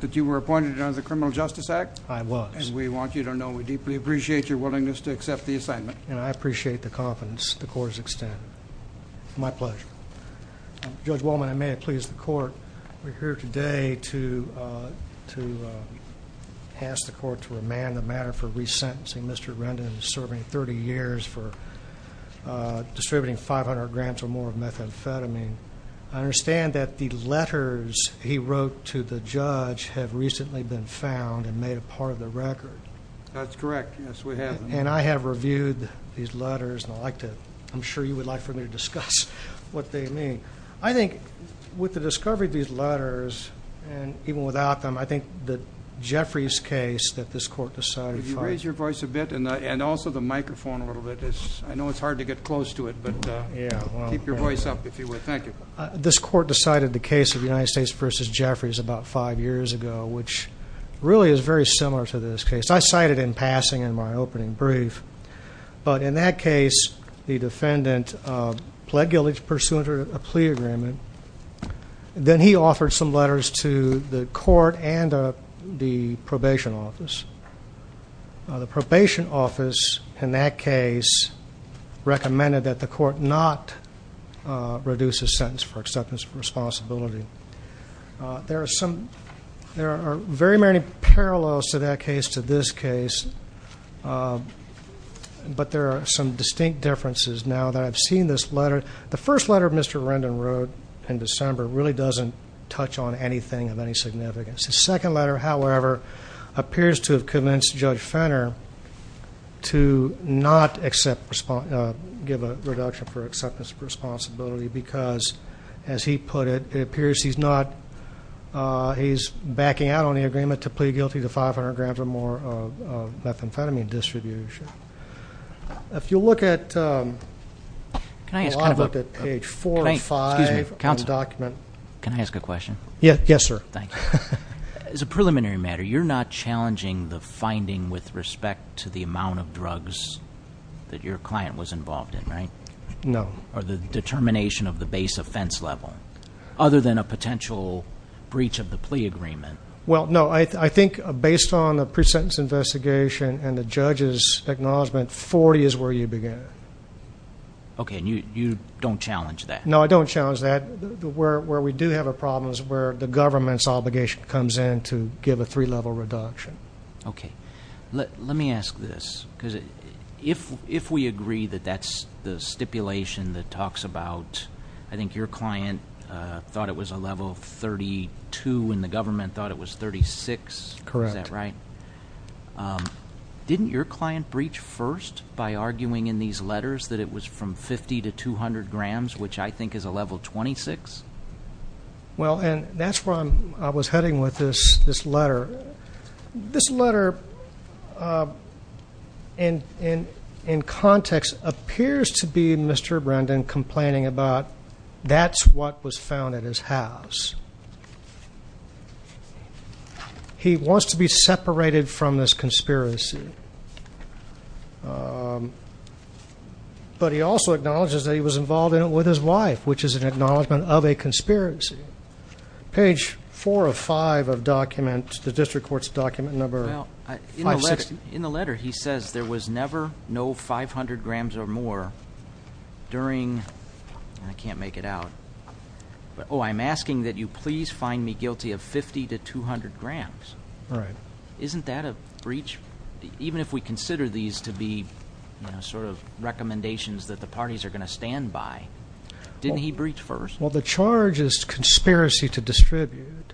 that you were appointed under the criminal justice act? I was. And we want you to know we deeply appreciate your willingness to accept the assignment. And I appreciate the confidence the court has extended. My pleasure. Judge Wallman, I may have pleased the court. We're here today to ask the court to remand the matter for resentencing Mr. Rendon serving 30 years for distributing 500 grams or more of methamphetamine. I understand that the letters he wrote to the judge have recently been found and made a part of the record. That's correct. Yes, we have. And I have reviewed these letters and I'd like to, I'm sure you would like for me to discuss what they mean. I think with the discovery of these letters and even without them, I think that Jeffrey's case that this court decided. If you raise your voice a bit and also the microphone a little bit. I know it's hard to get close to it but keep your voice up if you would. Thank you. This court decided the case of United States versus Jeffrey's about five years ago which really is very similar to this case. I cited in passing in my opening brief but in that case the defendant pled guilty to pursuant to a plea agreement. Then he offered some letters to the court and the probation office. The probation office in that case recommended that the court not reduce his sentence for acceptance of responsibility. There are some, there are very many parallels to that case to this case but there are some distinct differences now that I've seen this letter. The first letter Mr. Rendon wrote in December really doesn't touch on anything of any significance. The second letter however appears to have convinced Judge Fenner to not accept, give a reduction for acceptance of responsibility because as he put it, it appears he's not, he's backing out on the agreement to plead guilty to 500 grams or more of methamphetamine distribution. If you look at, I'll look at page four or five of the document. Can I ask a question? Yes sir. Thank you. As a preliminary matter you're not challenging the finding with respect to the amount of drugs that your client was involved in right? No. Or the determination of the base offense level other than a potential breach of the plea agreement? Well no I think based on the pre-sentence investigation and the judge's acknowledgement 40 is where you begin. Okay and you don't challenge that? No I don't challenge that. Where we do have a problem is where the government's obligation comes in to give a three-level reduction. Okay let me ask this because if we agree that that's the stipulation that talks about, I think your client thought it was a level 32 and the government thought it was 36. Correct. Is that right? Didn't your client breach first by arguing in these letters that it was from 50 to 200 grams which I think is a level 26. Well and that's where I'm I was heading with this this letter. This letter in context appears to be Mr. Brendan complaining about that's what was found at his house. He wants to be separated from this conspiracy but he also acknowledges that he was involved in it with his wife which is an acknowledgment of a conspiracy. Page four of five of document the district court's document number. In the letter he says there was never no 500 grams or more during I can't make it out but oh I'm asking that you please find me guilty of 50 to 200 grams. Right. Isn't that a breach even if we consider these to be you know sort of recommendations that the parties are going to stand by? Didn't he breach first? Well the charge is conspiracy to distribute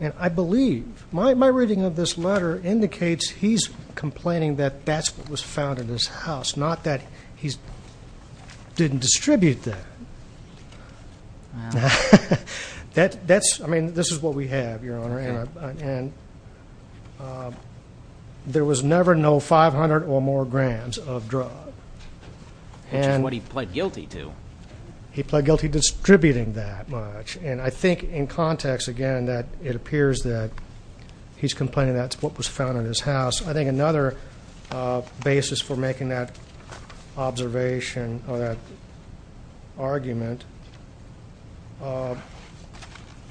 and I believe my reading of this letter indicates he's complaining that that's what was found in his house not that he's didn't distribute that. That that's I mean this is what we have your honor and there was never no 500 or more grams of drug. Which is what he pled guilty to. He pled guilty distributing that much and I think in context again that it appears that he's complaining that's what was found in his house. I think another basis for making that observation or that argument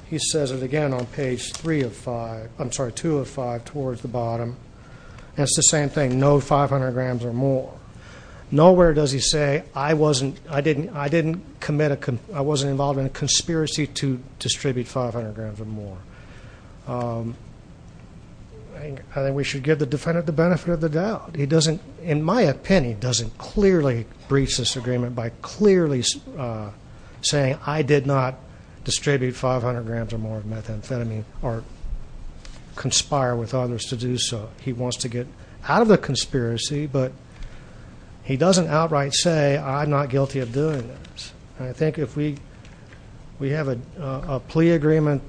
he says it again on page three of five I'm sorry two of five towards the bottom. It's the same thing no 500 grams or more. Nowhere does he say I wasn't I didn't I didn't commit a I wasn't involved in a conspiracy to distribute 500 grams or more. I think we should give the defendant the benefit of the doubt. He doesn't in my opinion doesn't clearly breach this agreement by clearly saying I did not distribute 500 grams or more of methamphetamine or conspire with others to do so. He wants to get out of the conspiracy but he doesn't outright say I'm not guilty of doing this. I think if we we have a plea agreement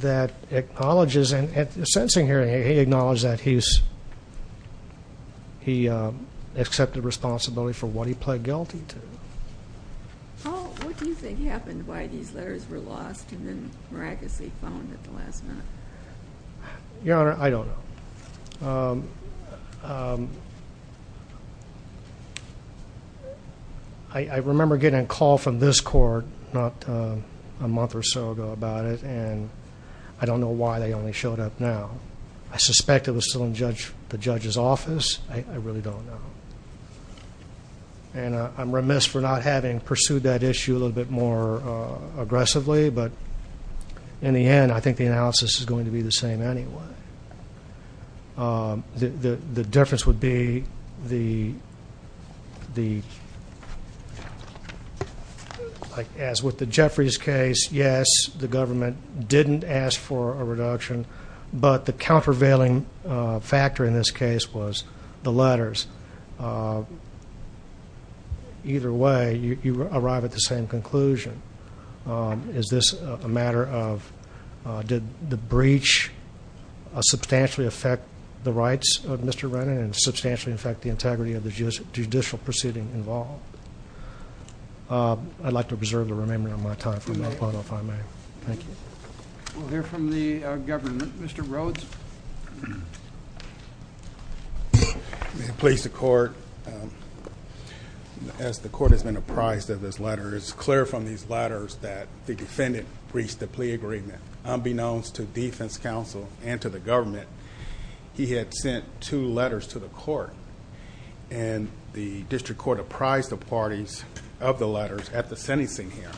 that acknowledges and at the sentencing hearing he acknowledges that he's he accepted responsibility for what he pled guilty to. How what do you think happened why these letters were lost and then miraculously found at the last minute? Your honor I don't know. I remember getting a call from this court not a month or so ago about it and I don't know why they only showed up now. I suspect it was still in judge the judge's office. I really don't know and I'm remiss for not having pursued that issue a little bit more aggressively but in the end I think the analysis is going to be the same anyway. The the difference would be the the like as with the Jeffries case yes the government didn't ask for a reduction but the countervailing factor in this case was the letters. Either way you arrive at the same conclusion. Is this a matter of did the breach substantially affect the rights of Mr. Rennan and substantially affect the integrity of the judicial proceeding involved? I'd like to preserve the remembrance of my time for my part if I may. Thank you. We'll hear from the government. Mr. Rhodes. May it please the court as the court has been apprised of this letter it's clear from these letters that the defendant breached the plea agreement unbeknownst to defense counsel and the government. He had sent two letters to the court and the district court apprised the parties of the letters at the sentencing hearing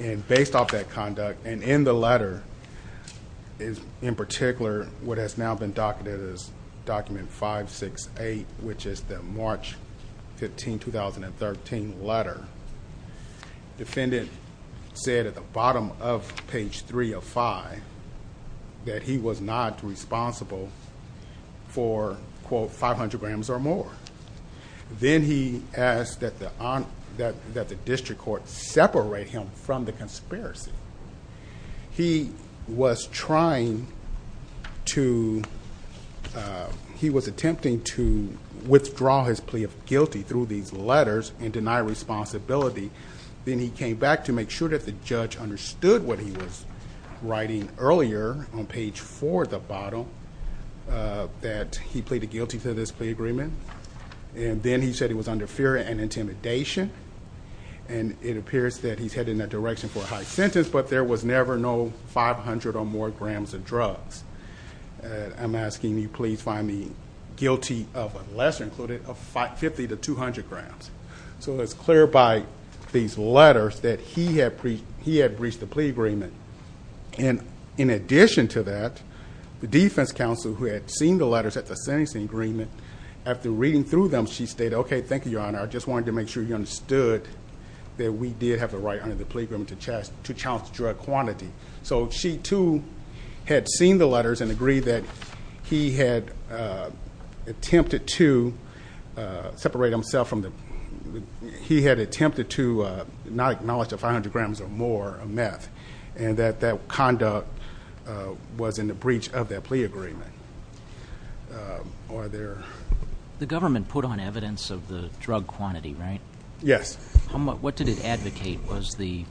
and based off that conduct and in the letter is in particular what has now been docketed is document 568 which is the March 15, 2013 letter. Defendant said at the bottom of page three of five that he was not responsible for quote 500 grams or more. Then he asked that the district court separate him from the conspiracy. He was trying to he was attempting to withdraw his plea of guilty through these letters and responsibility. Then he came back to make sure that the judge understood what he was writing earlier on page four at the bottom that he pleaded guilty to this plea agreement and then he said he was under fear and intimidation and it appears that he's headed in that direction for a high sentence but there was never no 500 or more grams of drugs. I'm asking you please find me guilty of less included of 50 to 200 grams. So it's clear by these letters that he had breached the plea agreement and in addition to that the defense counsel who had seen the letters at the sentencing agreement after reading through them she stated okay thank you your honor I just wanted to make sure you understood that we did have the right under the plea agreement to challenge drug quantity. So she too had seen the letters and agreed that he had attempted to separate himself from the he had attempted to not acknowledge the 500 grams or more of meth and that that conduct was in the breach of that plea agreement. The government put on evidence of the drug quantity right? Yes. How much what did it The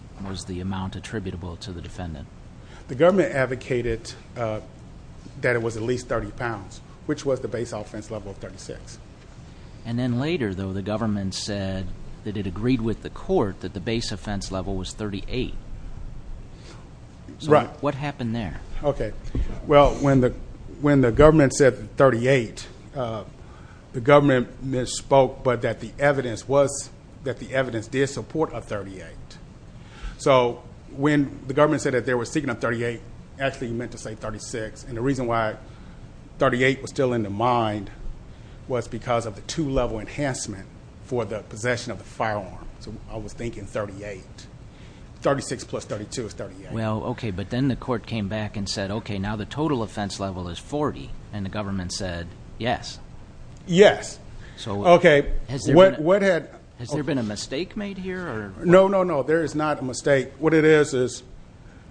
government advocated that it was at least 30 pounds which was the base offense level of 36. And then later though the government said that it agreed with the court that the base offense level was 38. Right. What happened there? Okay well when the when the government said 38 the government misspoke but that the evidence was that the evidence did support a 38. So when the government said that they were speaking of 38 actually meant to say 36 and the reason why 38 was still in the mind was because of the two-level enhancement for the possession of the firearm. So I was thinking 38. 36 plus 32 is 38. Well okay but then the court came back and said okay now the total offense level is 40 and the government said yes. Yes. So okay what had Has there been a mistake made here? No no no there is not a mistake. What it is is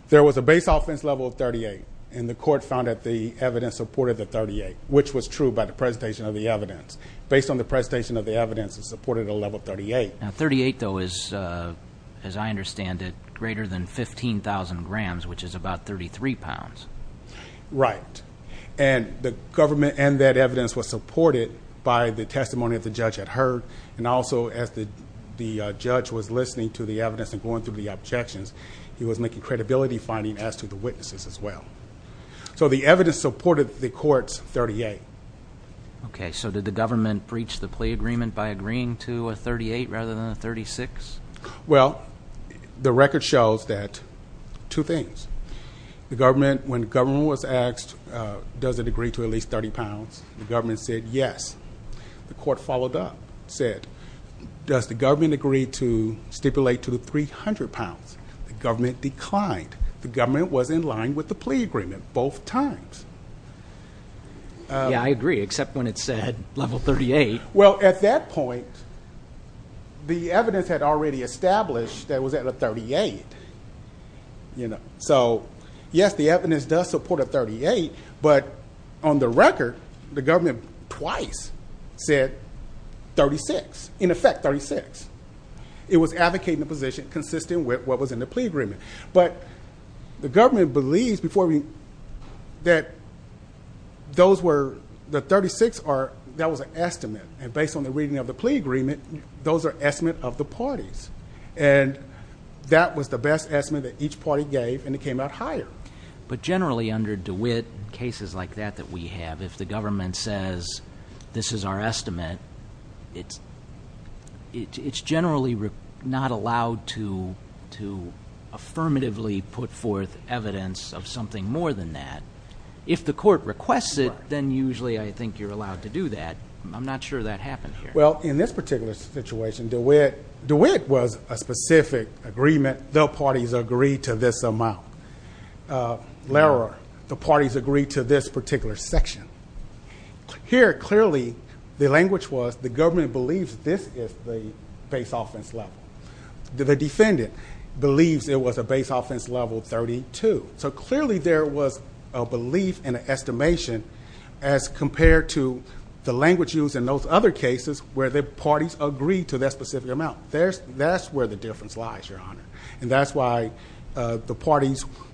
there was a base offense level of 38 and the court found that the evidence supported the 38 which was true by the presentation of the evidence. Based on the presentation of the evidence it supported a level 38. Now 38 though is uh as I understand it greater than 15,000 grams which is about 33 pounds. Right and the government and that evidence was supported by the testimony that the judge had also as the the judge was listening to the evidence and going through the objections he was making credibility finding as to the witnesses as well. So the evidence supported the court's 38. Okay so did the government breach the plea agreement by agreeing to a 38 rather than a 36? Well the record shows that two things. The government when government was asked uh does it the court followed up said does the government agree to stipulate to 300 pounds? The government declined. The government was in line with the plea agreement both times. Yeah I agree except when it said level 38. Well at that point the evidence had already established that was at a 38. You know so yes the evidence does support a 38 but on the record the government twice said 36 in effect 36. It was advocating a position consistent with what was in the plea agreement but the government believes before we that those were the 36 are that was an estimate and based on the reading of the plea agreement those are estimate of the parties and that was the best estimate that each party gave and it came out higher. But generally under DeWitt cases like that that we have if the government says this is our estimate it's it's generally not allowed to to affirmatively put forth evidence of something more than that. If the court requests it then usually I think you're allowed to do that. I'm not sure that happened here. Well in this particular situation DeWitt DeWitt was a specific agreement the parties agreed to this amount. Larrer the parties agreed to this particular section. Here clearly the language was the government believes this is the base offense level. The defendant believes it was a base offense level 32. So clearly there was a belief in an estimation as compared to the language used in those other cases where the parties agreed to that specific amount. There's that's where the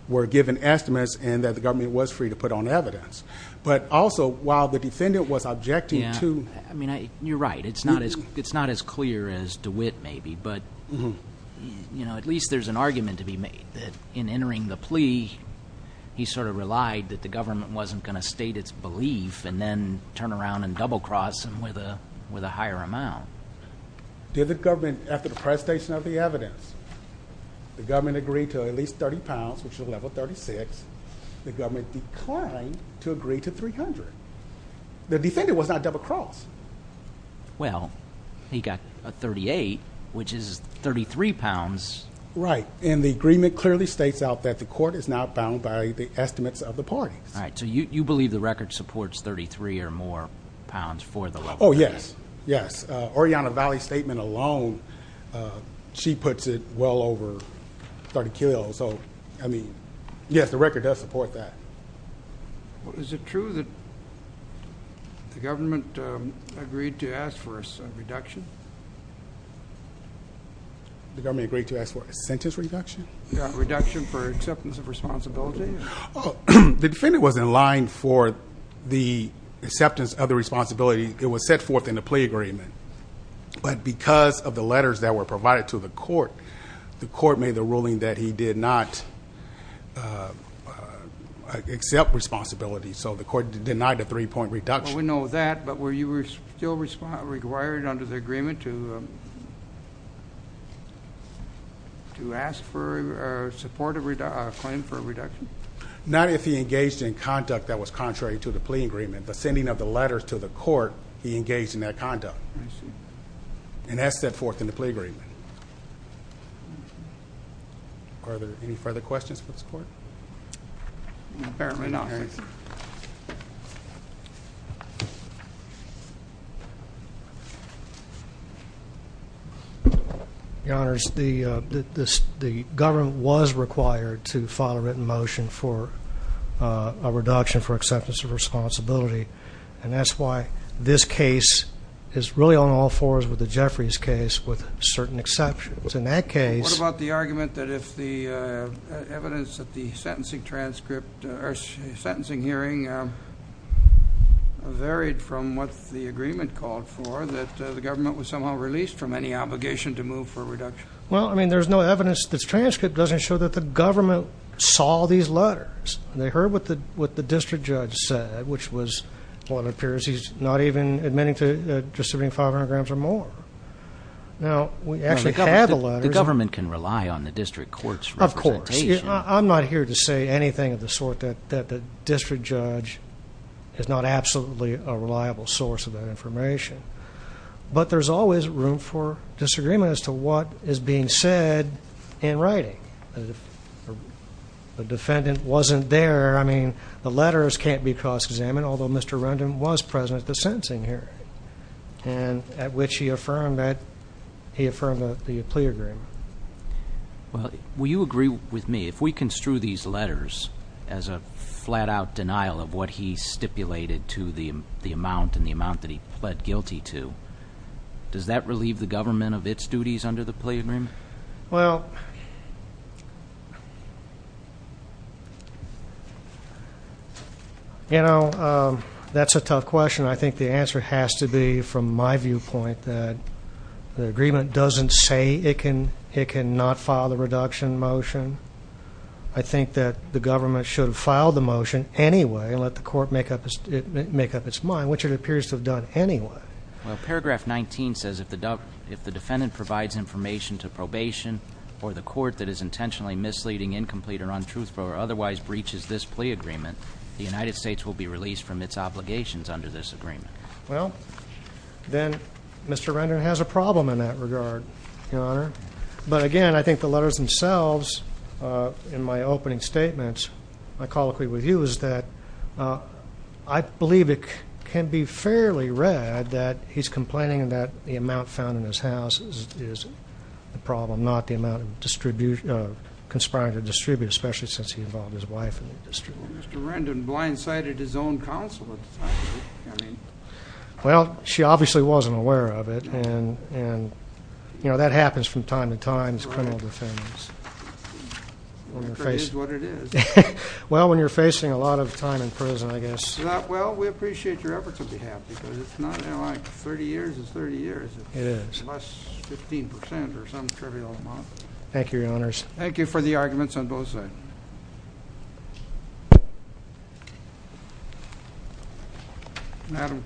were given estimates and that the government was free to put on evidence. But also while the defendant was objecting to. I mean you're right it's not as it's not as clear as DeWitt maybe but you know at least there's an argument to be made that in entering the plea he sort of relied that the government wasn't going to state its belief and then turn around and double cross him with a with a higher amount. Did the government after the presentation of the evidence the government agreed to at least 30 pounds which is level 36. The government declined to agree to 300. The defendant was not double crossed. Well he got a 38 which is 33 pounds. Right and the agreement clearly states out that the court is not bound by the estimates of the parties. All right so you you believe the record supports 33 or more well over 30 kilos. So I mean yes the record does support that. Is it true that the government agreed to ask for a reduction? The government agreed to ask for a sentence reduction? Reduction for acceptance of responsibility? The defendant was in line for the acceptance of the responsibility. It was set forth in the plea agreement but because of the letters that were provided to the court the court made the ruling that he did not accept responsibility so the court denied a three-point reduction. We know that but were you were still required under the agreement to to ask for a supportive claim for a reduction? Not if he engaged in conduct that was contrary to the plea agreement the sending of the letters to the court he engaged in that conduct and that's set forth in the plea agreement. Are there any further questions for this court? Apparently not. Your honors the uh the this the government was required to file a written motion for uh a reduction for acceptance of responsibility and that's why this case is really on all fours with the Jeffries case with certain exceptions in that case. What about the argument that if the evidence that the sentencing transcript or sentencing hearing varied from what the agreement called for that the government was somehow released from any obligation to move for a reduction? Well I mean there's no evidence this transcript doesn't show that the government saw these letters they heard what the what the district judge said which was what appears he's not even admitting to distributing 500 grams or more. Now we actually have the letters. The government can rely on the district court's representation. Of course I'm not here to say anything of the sort that that the district judge is not absolutely a reliable source of that information but there's always room for I mean the letters can't be cross-examined although Mr. Rendon was present at the sentencing hearing and at which he affirmed that he affirmed the plea agreement. Well will you agree with me if we construe these letters as a flat-out denial of what he stipulated to the the amount and the amount that he pled guilty to does that relieve the government of its duties under the plea agreement? Well you know that's a tough question. I think the answer has to be from my viewpoint that the agreement doesn't say it can it cannot file the reduction motion. I think that the government should have filed the motion anyway and let the court make up its make up its mind which it appears to have done anyway. Well paragraph 19 says if the if the defendant provides information to probation or the court that is intentionally misleading incomplete or untruthful or otherwise breaches this plea agreement the United States will be released from its obligations under this agreement. Well then Mr. Rendon has a problem in that regard your honor but again I think the letters themselves in my opening statements I colloquy with you is that I believe it can be read that he's complaining that the amount found in his house is the problem not the amount of distribution of conspiring to distribute especially since he involved his wife in the district. Mr. Rendon blindsided his own counsel at the time. I mean well she obviously wasn't aware of it and and you know that happens from time to time as criminal defendants. Well when you're facing a lot of time in prison I guess. Well we appreciate your behalf because it's not like 30 years is 30 years. It is less 15 percent or some trivial amount. Thank you your honors. Thank you for the arguments on both sides.